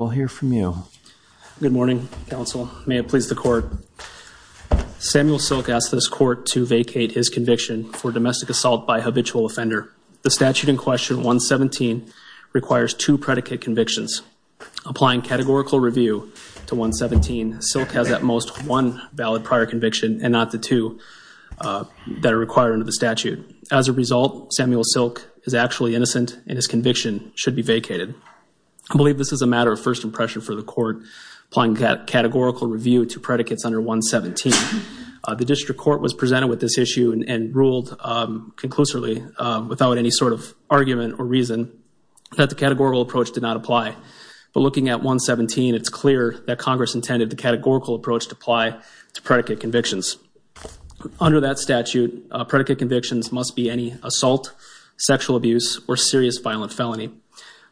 Good morning, counsel. May it please the court. Samuel Silk asked this court to vacate his conviction for domestic assault by a habitual offender. The statute in question, 117, requires two predicate convictions. Applying categorical review to 117, Silk has at most one valid prior conviction and not the two that are required under the statute. As a result, Samuel Silk is actually innocent and his conviction should be vacated. I believe this is a matter of first impression for the court applying categorical review to predicates under 117. The district court was presented with this issue and ruled conclusively without any sort of argument or reason that the categorical approach did not apply. But looking at 117, it's clear that Congress intended the categorical approach to apply to predicate convictions. Under that statute, predicate convictions must be any assault, sexual abuse, or serious violent felony.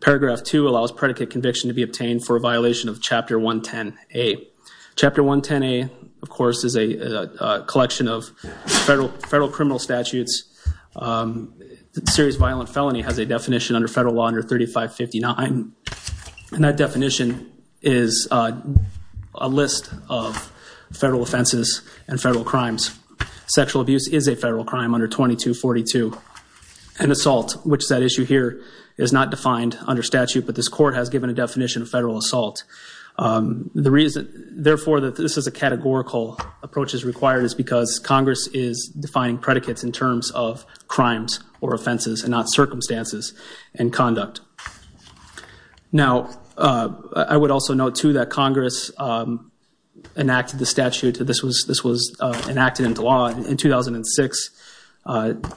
Paragraph 2 allows predicate conviction to be obtained for a violation of Chapter 110A. Chapter 110A, of course, is a collection of federal criminal statutes. Serious violent felony has a definition under federal law under 3559, and that definition is a list of federal offenses and federal crimes. Sexual abuse is a federal crime under 2242. And assault, which is that issue here, is not defined under statute, but this court has given a definition of federal assault. The reason, therefore, that this is a categorical approach is required is because Congress is defining predicates in terms of crimes or offenses and not circumstances and conduct. Now, I would also note, too, that Congress enacted the statute. This was enacted into law in 2006.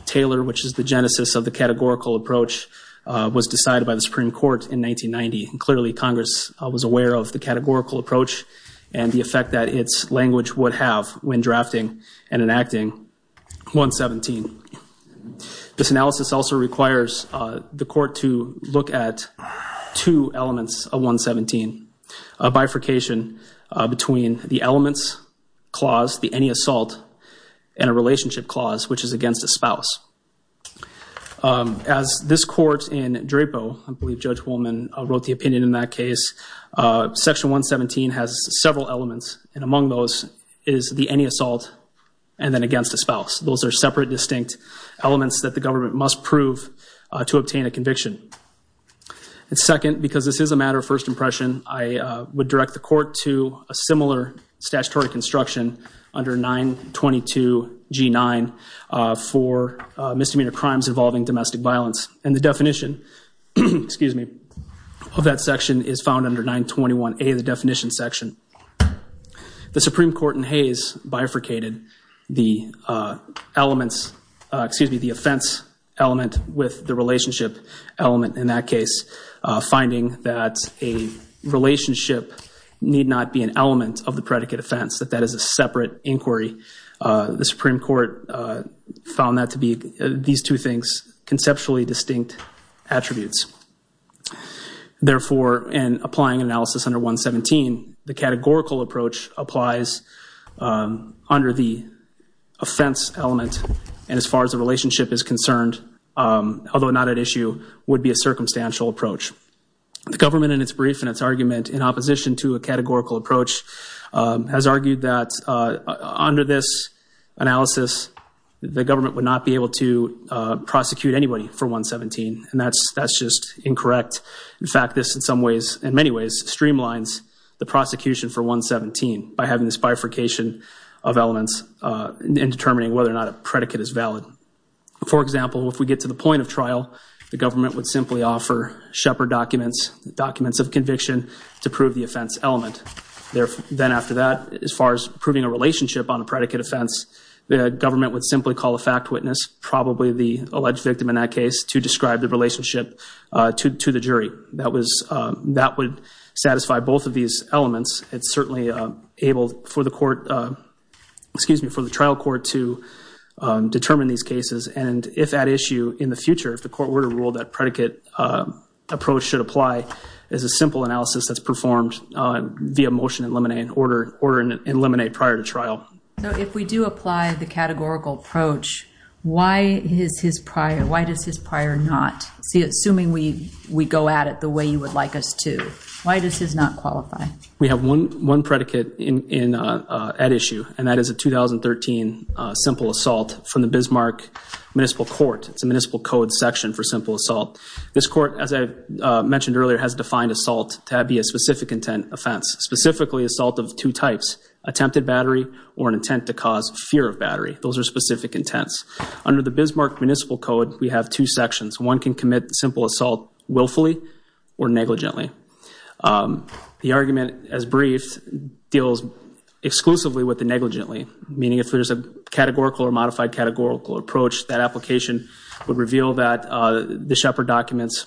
Taylor, which is the genesis of the categorical approach, was decided by the Supreme Court in 1990. Clearly, Congress was aware of the categorical approach and the effect that its language would have when drafting and enacting 117. This analysis also requires the court to look at two elements of 117. A bifurcation between the elements clause, the any assault, and a relationship clause, which is against a spouse. As this court in DRAPO, I believe Judge Woolman wrote the opinion in that case, Section 117 has several elements, and among those is the any assault and then against a spouse. Those are separate, distinct elements that the government must prove to obtain a conviction. And second, because this is a matter of first impression, I would direct the court to a similar statutory construction under 922G9 for misdemeanor crimes involving domestic violence. And the definition of that section is found under 921A, the definition section. The Supreme Court in Hayes bifurcated the elements, excuse me, the offense element with the relationship element in that case, finding that a relationship need not be an element of the predicate offense, that that is a separate inquiry. The Supreme Court found that to be, these two things, conceptually distinct attributes. Therefore, in applying analysis under 117, the categorical approach applies under the offense element, and as far as the relationship is concerned, although not at issue, would be a circumstantial approach. The government in its brief and its argument in opposition to a categorical approach has argued that under this analysis, the government would not be able to prosecute anybody for 117, and that's just incorrect. In fact, this in some ways, in many ways, streamlines the prosecution for 117 by having this bifurcation of elements and determining whether or not a predicate is valid. For example, if we get to the point of trial, the government would simply offer Shepard documents, documents of conviction, to prove the offense element. Then after that, as far as proving a relationship on a predicate offense, the government would simply call a fact witness, probably the alleged victim in that case, to describe the relationship to the jury. That would satisfy both of these elements. It's certainly able for the trial court to determine these cases, and if at issue in the future, if the court were to rule that predicate approach should apply, is a simple analysis that's performed via motion in limine, order in limine prior to trial. So if we do apply the categorical approach, why does his prior not? Assuming we go at it the way you would like us to, why does his not qualify? We have one predicate at issue, and that is a 2013 simple assault from the Bismarck Municipal Court. It's a municipal code section for simple assault. This court, as I mentioned earlier, has defined assault to be a specific intent offense, specifically assault of two types, attempted battery or an intent to cause fear of battery. Those are specific intents. Under the Bismarck Municipal Code, we have two sections. One can commit simple assault willfully or negligently. The argument, as briefed, deals exclusively with the negligently, meaning if there's a categorical or modified categorical approach, that application would reveal that the Shepard documents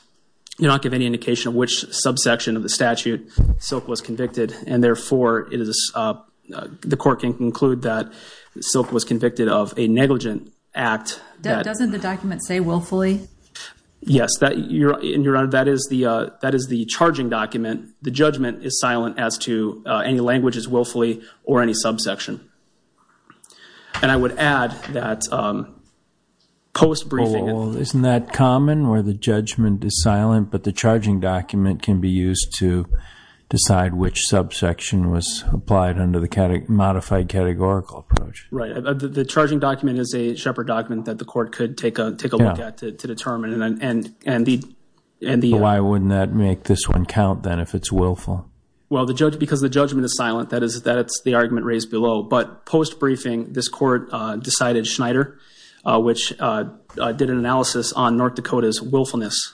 do not give any indication of which subsection of the statute Silk was convicted, and therefore the court can conclude that Silk was convicted of a negligent act. Doesn't the document say willfully? Yes. Your Honor, that is the charging document. The judgment is silent as to any languages willfully or any subsection. And I would add that post-briefing. Isn't that common where the judgment is silent, but the charging document can be used to decide which subsection was applied under the modified categorical approach? Right. The charging document is a Shepard document that the court could take a look at to determine. Why wouldn't that make this one count, then, if it's willful? Well, because the judgment is silent, that it's the argument raised below. But post-briefing, this court decided Schneider, which did an analysis on North Dakota's willfulness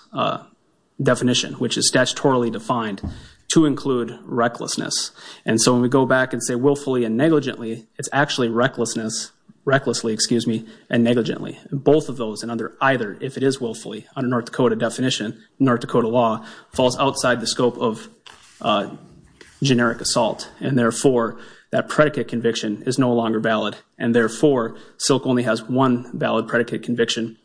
definition, which is statutorily defined to include recklessness. And so when we go back and say willfully and negligently, it's actually recklessly and negligently. Both of those, and either, if it is willfully, under North Dakota definition, North Dakota law falls outside the scope of generic assault. And therefore, that predicate conviction is no longer valid. And therefore, Silk only has one valid predicate conviction,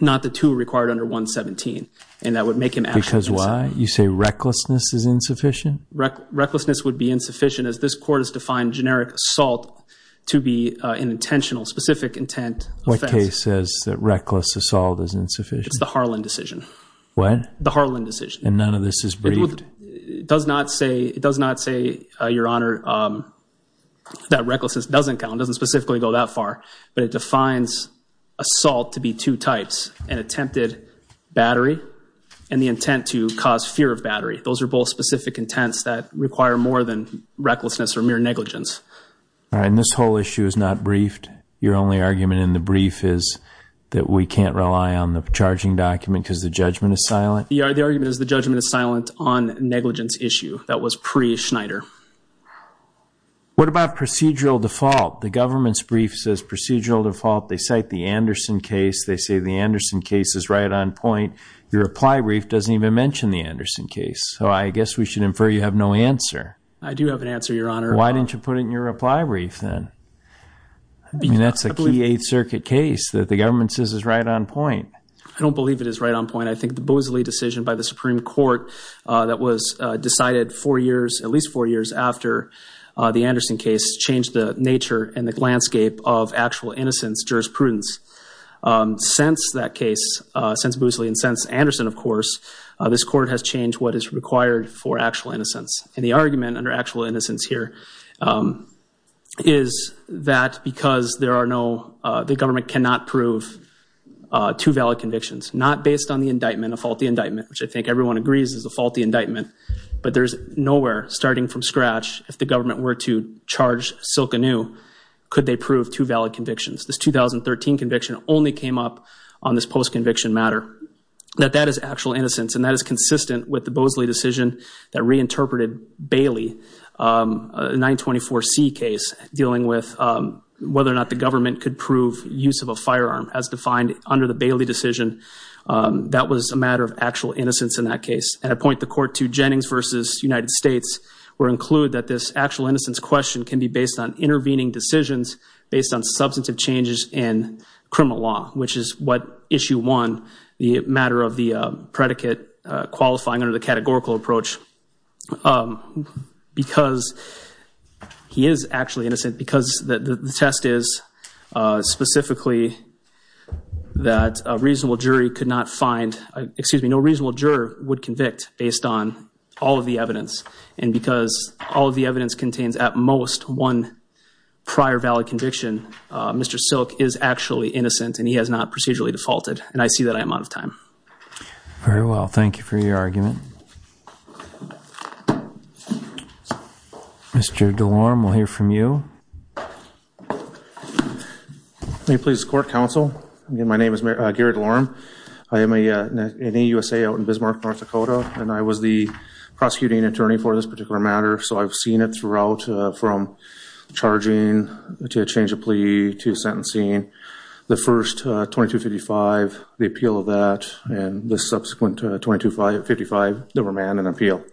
not the two required under 117. And that would make him actually. Because why? You say recklessness is insufficient? Recklessness would be insufficient as this court has defined generic assault to be an intentional, specific intent offense. What case says that reckless assault is insufficient? It's the Harlan decision. What? The Harlan decision. And none of this is briefed? It does not say, Your Honor, that recklessness doesn't count. It doesn't specifically go that far. But it defines assault to be two types, an attempted battery and the intent to cause fear of battery. Those are both specific intents that require more than recklessness or mere negligence. All right. And this whole issue is not briefed? Your only argument in the brief is that we can't rely on the charging document because the judgment is silent? The argument is the judgment is silent on negligence issue. That was pre-Schneider. What about procedural default? The government's brief says procedural default. They cite the Anderson case. They say the Anderson case is right on point. Your reply brief doesn't even mention the Anderson case. So I guess we should infer you have no answer. I do have an answer, Your Honor. Why didn't you put it in your reply brief then? I mean, that's a key Eighth Circuit case that the government says is right on point. I don't believe it is right on point. I think the Boozley decision by the Supreme Court that was decided four years, at least four years, after the Anderson case changed the nature and the landscape of actual innocence jurisprudence. Since that case, since Boozley and since Anderson, of course, this court has changed what is required for actual innocence. And the argument under actual innocence here is that because there are no, the government cannot prove two valid convictions, not based on the indictment, a faulty indictment, which I think everyone agrees is a faulty indictment, but there's nowhere, starting from scratch, if the government were to charge Silkenew, could they prove two valid convictions. This 2013 conviction only came up on this post-conviction matter. That that is actual innocence and that is consistent with the Boozley decision that reinterpreted Bailey, a 924C case dealing with whether or not the government could prove use of a firearm. As defined under the Bailey decision, that was a matter of actual innocence in that case. And I point the court to Jennings v. United States, where I include that this actual innocence question can be based on intervening decisions, based on substantive changes in criminal law, which is what issue one, the matter of the predicate qualifying under the categorical approach. Because he is actually innocent because the test is specifically that a reasonable jury could not find, excuse me, no reasonable juror would convict based on all of the evidence. And because all of the evidence contains at most one prior valid conviction, Mr. Silk is actually innocent and he has not procedurally defaulted. And I see that I am out of time. Very well. Thank you for your argument. Mr. DeLorme, we'll hear from you. May it please the court, counsel. My name is Gary DeLorme. I am an AUSA out in Bismarck, North Dakota. And I was the prosecuting attorney for this particular matter, so I've seen it throughout from charging to a change of plea to sentencing, the first 2255, the appeal of that, and the subsequent 2255, the remand and appeal.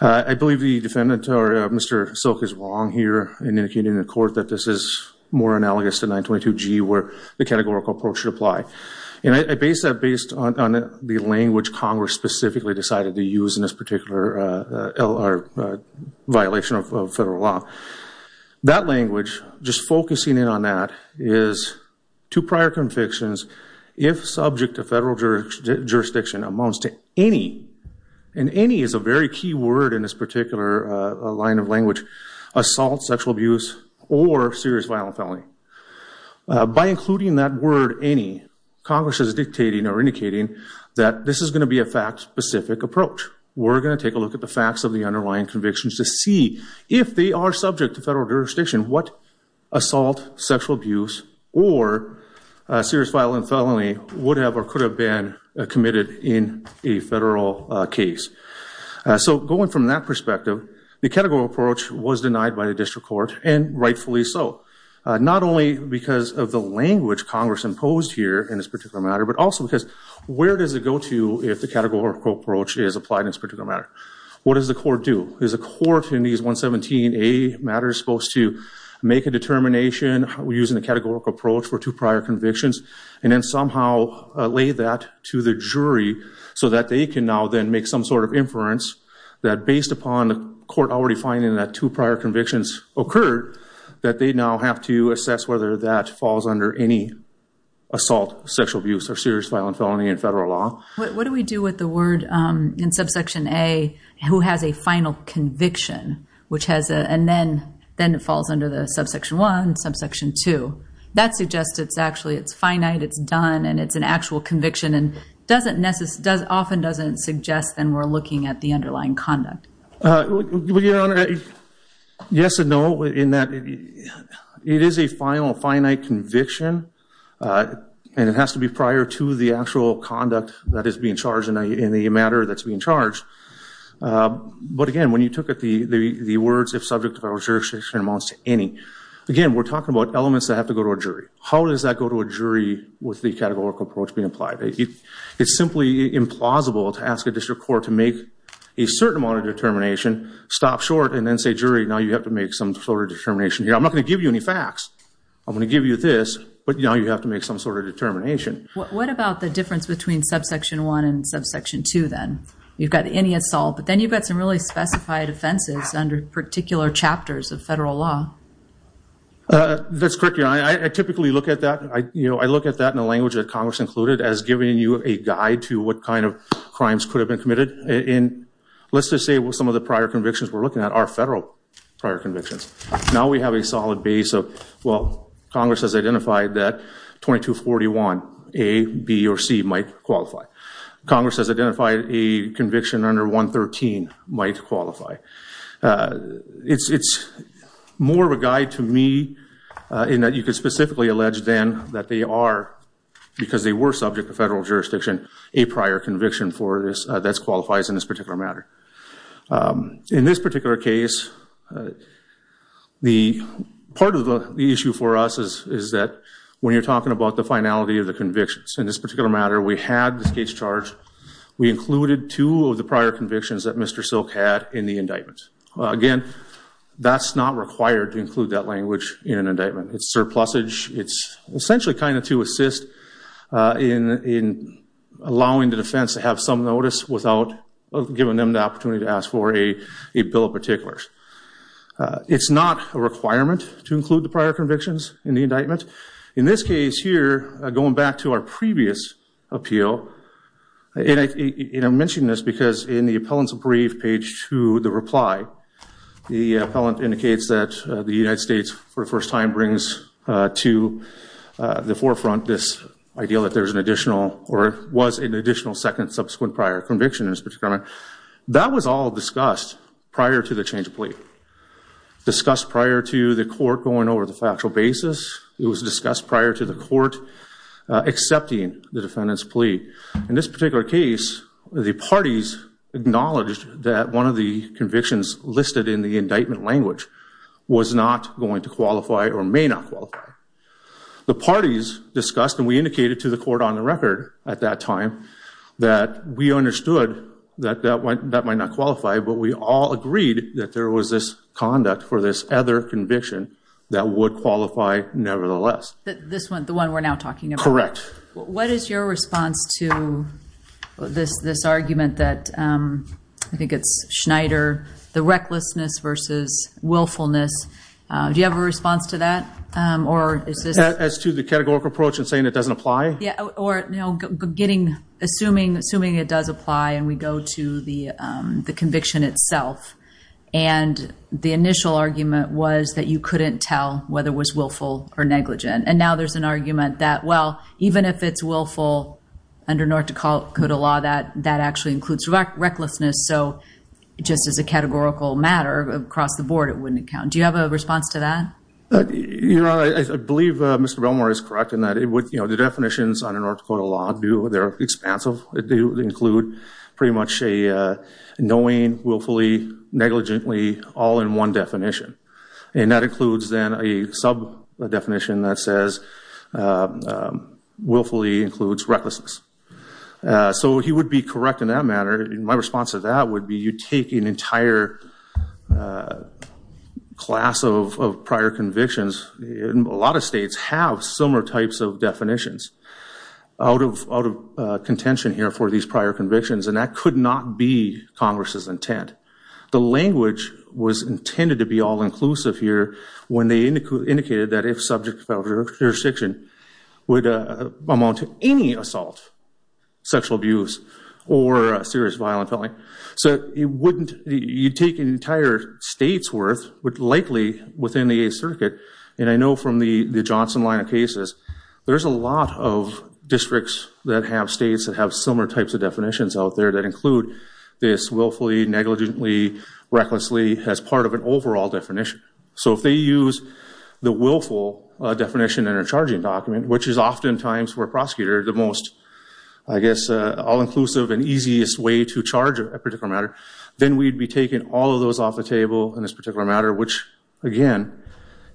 I believe the defendant, or Mr. Silk, is wrong here in indicating to the court that this is more analogous to 922G where the categorical approach should apply. And I base that based on the language Congress specifically decided to use in this particular violation of federal law. That language, just focusing in on that, is two prior convictions if subject to federal jurisdiction amounts to any, and any is a very key word in this particular line of language, assault, sexual abuse, or serious violent felony. By including that word, any, Congress is dictating or indicating that this is going to be a fact-specific approach. We're going to take a look at the facts of the underlying convictions to see if they are subject to federal jurisdiction, what assault, sexual abuse, or serious violent felony would have or could have been committed in a federal case. So going from that perspective, the categorical approach was denied by the district court, and rightfully so. Not only because of the language Congress imposed here in this particular matter, but also because where does it go to if the categorical approach is applied in this particular matter? What does the court do? Is the court in these 117A matters supposed to make a determination using the categorical approach for two prior convictions and then somehow lay that to the jury so that they can now then make some sort of inference that based upon the court already finding that two prior convictions occurred, that they now have to assess whether that falls under any assault, sexual abuse, or serious violent felony in federal law? What do we do with the word in subsection A, who has a final conviction, which has a, and then it falls under the subsection 1, subsection 2. That suggests it's actually, it's finite, it's done, and it's an actual conviction and often doesn't suggest that we're looking at the underlying conduct. Your Honor, yes and no in that it is a final, finite conviction and it has to be prior to the actual conduct that is being charged in the matter that's being charged. But again, when you took the words, if subject of our jurisdiction amounts to any, again, we're talking about elements that have to go to a jury. How does that go to a jury with the categorical approach being applied? It's simply implausible to ask a district court to make a certain amount of determination, stop short, and then say, jury, now you have to make some sort of determination. I'm not going to give you any facts. I'm going to give you this, but now you have to make some sort of determination. What about the difference between subsection 1 and subsection 2 then? You've got any assault, but then you've got some really specified offenses under particular chapters of federal law. That's correct, Your Honor. I typically look at that, I look at that in the language that Congress included as giving you a guide to what kind of crimes could have been committed. Let's just say some of the prior convictions we're looking at are federal prior convictions. Now we have a solid base of, well, Congress has identified that 2241, A, B, or C might qualify. Congress has identified a conviction under 113 might qualify. It's more of a guide to me in that you could specifically allege then that they are, because they were subject to federal jurisdiction, a prior conviction that qualifies in this particular matter. In this particular case, part of the issue for us is that when you're talking about the finality of the convictions, in this particular matter we had the state's charge. We included two of the prior convictions that Mr. Silk had in the indictment. Again, that's not required to include that language in an indictment. It's surplusage. It's essentially kind of to assist in allowing the defense to have some notice without giving them the opportunity to ask for a bill of particulars. It's not a requirement to include the prior convictions in the indictment. In this case here, going back to our previous appeal, and I'm mentioning this because in the appellant's brief page to the reply, the appellant indicates that the United States, for the first time, brings to the forefront this idea that there's an additional or was an additional second subsequent prior conviction in this particular matter. That was all discussed prior to the change of plea, discussed prior to the court going over the factual basis. In this particular case, the parties acknowledged that one of the convictions listed in the indictment language was not going to qualify or may not qualify. The parties discussed and we indicated to the court on the record at that time that we understood that that might not qualify, but we all agreed that there was this conduct for this other conviction that would qualify nevertheless. This one, the one we're now talking about? Correct. What is your response to this argument that I think it's Schneider, the recklessness versus willfulness? Do you have a response to that? As to the categorical approach and saying it doesn't apply? Yeah, or assuming it does apply and we go to the conviction itself, and the initial argument was that you couldn't tell whether it was willful or negligent. And now there's an argument that, well, even if it's willful under North Dakota law, that actually includes recklessness. So just as a categorical matter across the board, it wouldn't count. Do you have a response to that? I believe Mr. Belmore is correct in that the definitions under North Dakota law, they're expansive. They include pretty much a knowing, willfully, negligently, all in one definition. And that includes then a sub-definition that says willfully includes recklessness. So he would be correct in that matter. My response to that would be you take an entire class of prior convictions. A lot of states have similar types of definitions out of contention here for these prior convictions, and that could not be Congress's intent. The language was intended to be all-inclusive here when they indicated that if subject to federal jurisdiction would amount to any assault, sexual abuse, or serious violent felony. So you'd take an entire state's worth, but likely within the 8th Circuit. And I know from the Johnson line of cases, there's a lot of districts that have states that have similar types of definitions out there that include this willfully, negligently, recklessly as part of an overall definition. So if they use the willful definition in a charging document, which is oftentimes for a prosecutor the most, I guess, all-inclusive and easiest way to charge a particular matter, then we'd be taking all of those off the table in this particular matter, which, again,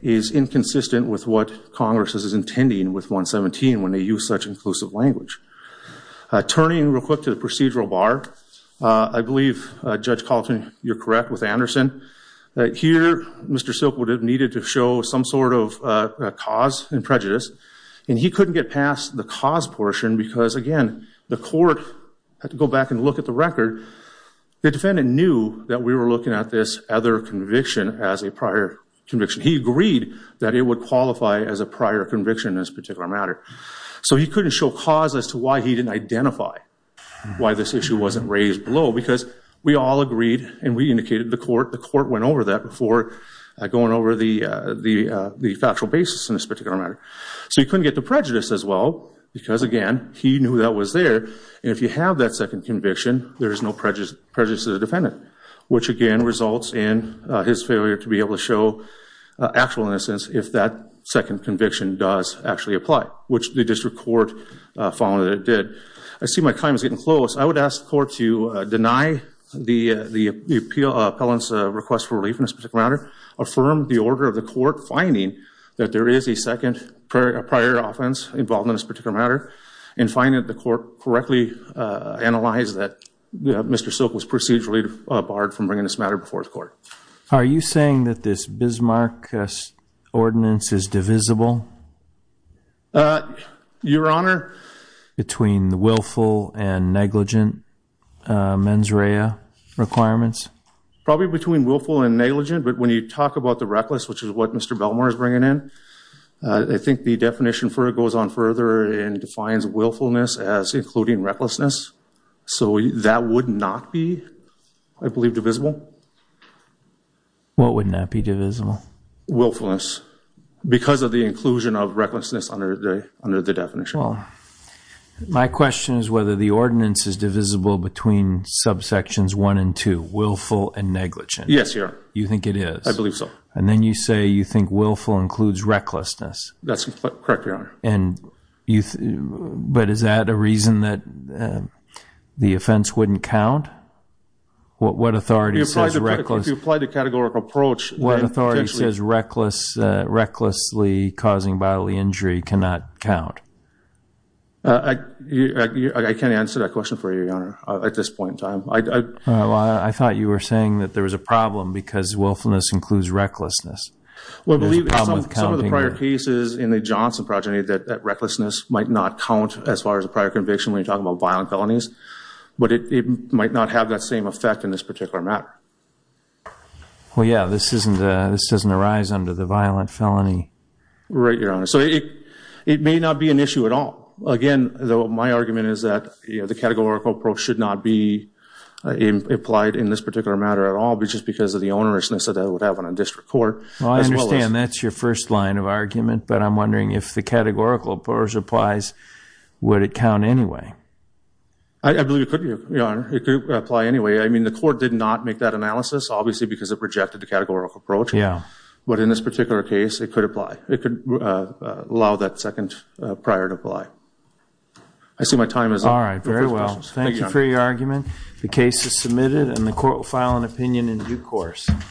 is inconsistent with what Congress is intending with 117 when they use such inclusive language. Turning real quick to the procedural bar. I believe, Judge Colton, you're correct with Anderson. Here, Mr. Silkwood needed to show some sort of cause and prejudice, and he couldn't get past the cause portion because, again, the court had to go back and look at the record. The defendant knew that we were looking at this other conviction as a prior conviction. He agreed that it would qualify as a prior conviction in this particular matter. So he couldn't show cause as to why he didn't identify why this issue wasn't raised below because we all agreed and we indicated to the court. The court went over that before going over the factual basis in this particular matter. So he couldn't get to prejudice as well because, again, he knew that was there, and if you have that second conviction, there is no prejudice to the defendant, which, again, results in his failure to be able to show actual innocence if that second conviction does actually apply, which the district court found that it did. I see my time is getting close. I would ask the court to deny the appellant's request for relief in this particular matter, affirm the order of the court finding that there is a second prior offense involved in this particular matter, and find that the court correctly analyzed that Mr. Silk was procedurally barred from bringing this matter before the court. Are you saying that this Bismarck ordinance is divisible? Your Honor? Between the willful and negligent mens rea requirements? Probably between willful and negligent, but when you talk about the reckless, which is what Mr. Belmar is bringing in, I think the definition for it goes on further and defines willfulness as including recklessness. So that would not be, I believe, divisible. What would not be divisible? Willfulness because of the inclusion of recklessness under the definition. My question is whether the ordinance is divisible between subsections 1 and 2, willful and negligent. Yes, Your Honor. You think it is? I believe so. And then you say you think willful includes recklessness. That's correct, Your Honor. But is that a reason that the offense wouldn't count? What authority says reckless... If you apply the categorical approach... What authority says recklessly causing bodily injury cannot count? I can't answer that question for you, Your Honor, at this point in time. I thought you were saying that there was a problem because willfulness includes recklessness. Well, I believe some of the prior cases in the Johnson progeny that recklessness might not count as far as a prior conviction when you're talking about violent felonies, but it might not have that same effect in this particular matter. Well, yeah, this doesn't arise under the violent felony. Right, Your Honor. So it may not be an issue at all. Again, my argument is that the categorical approach should not be applied in this particular matter at all because of the onerousness that would have on a district court. Well, I understand that's your first line of argument, but I'm wondering if the categorical approach applies, would it count anyway? I believe it could, Your Honor. It could apply anyway. I mean, the court did not make that analysis, obviously, because it rejected the categorical approach. Yeah. But in this particular case, it could apply. It could allow that second prior to apply. I see my time is up. All right, very well. Thank you for your argument. The case is submitted, and the court will file an opinion in due course.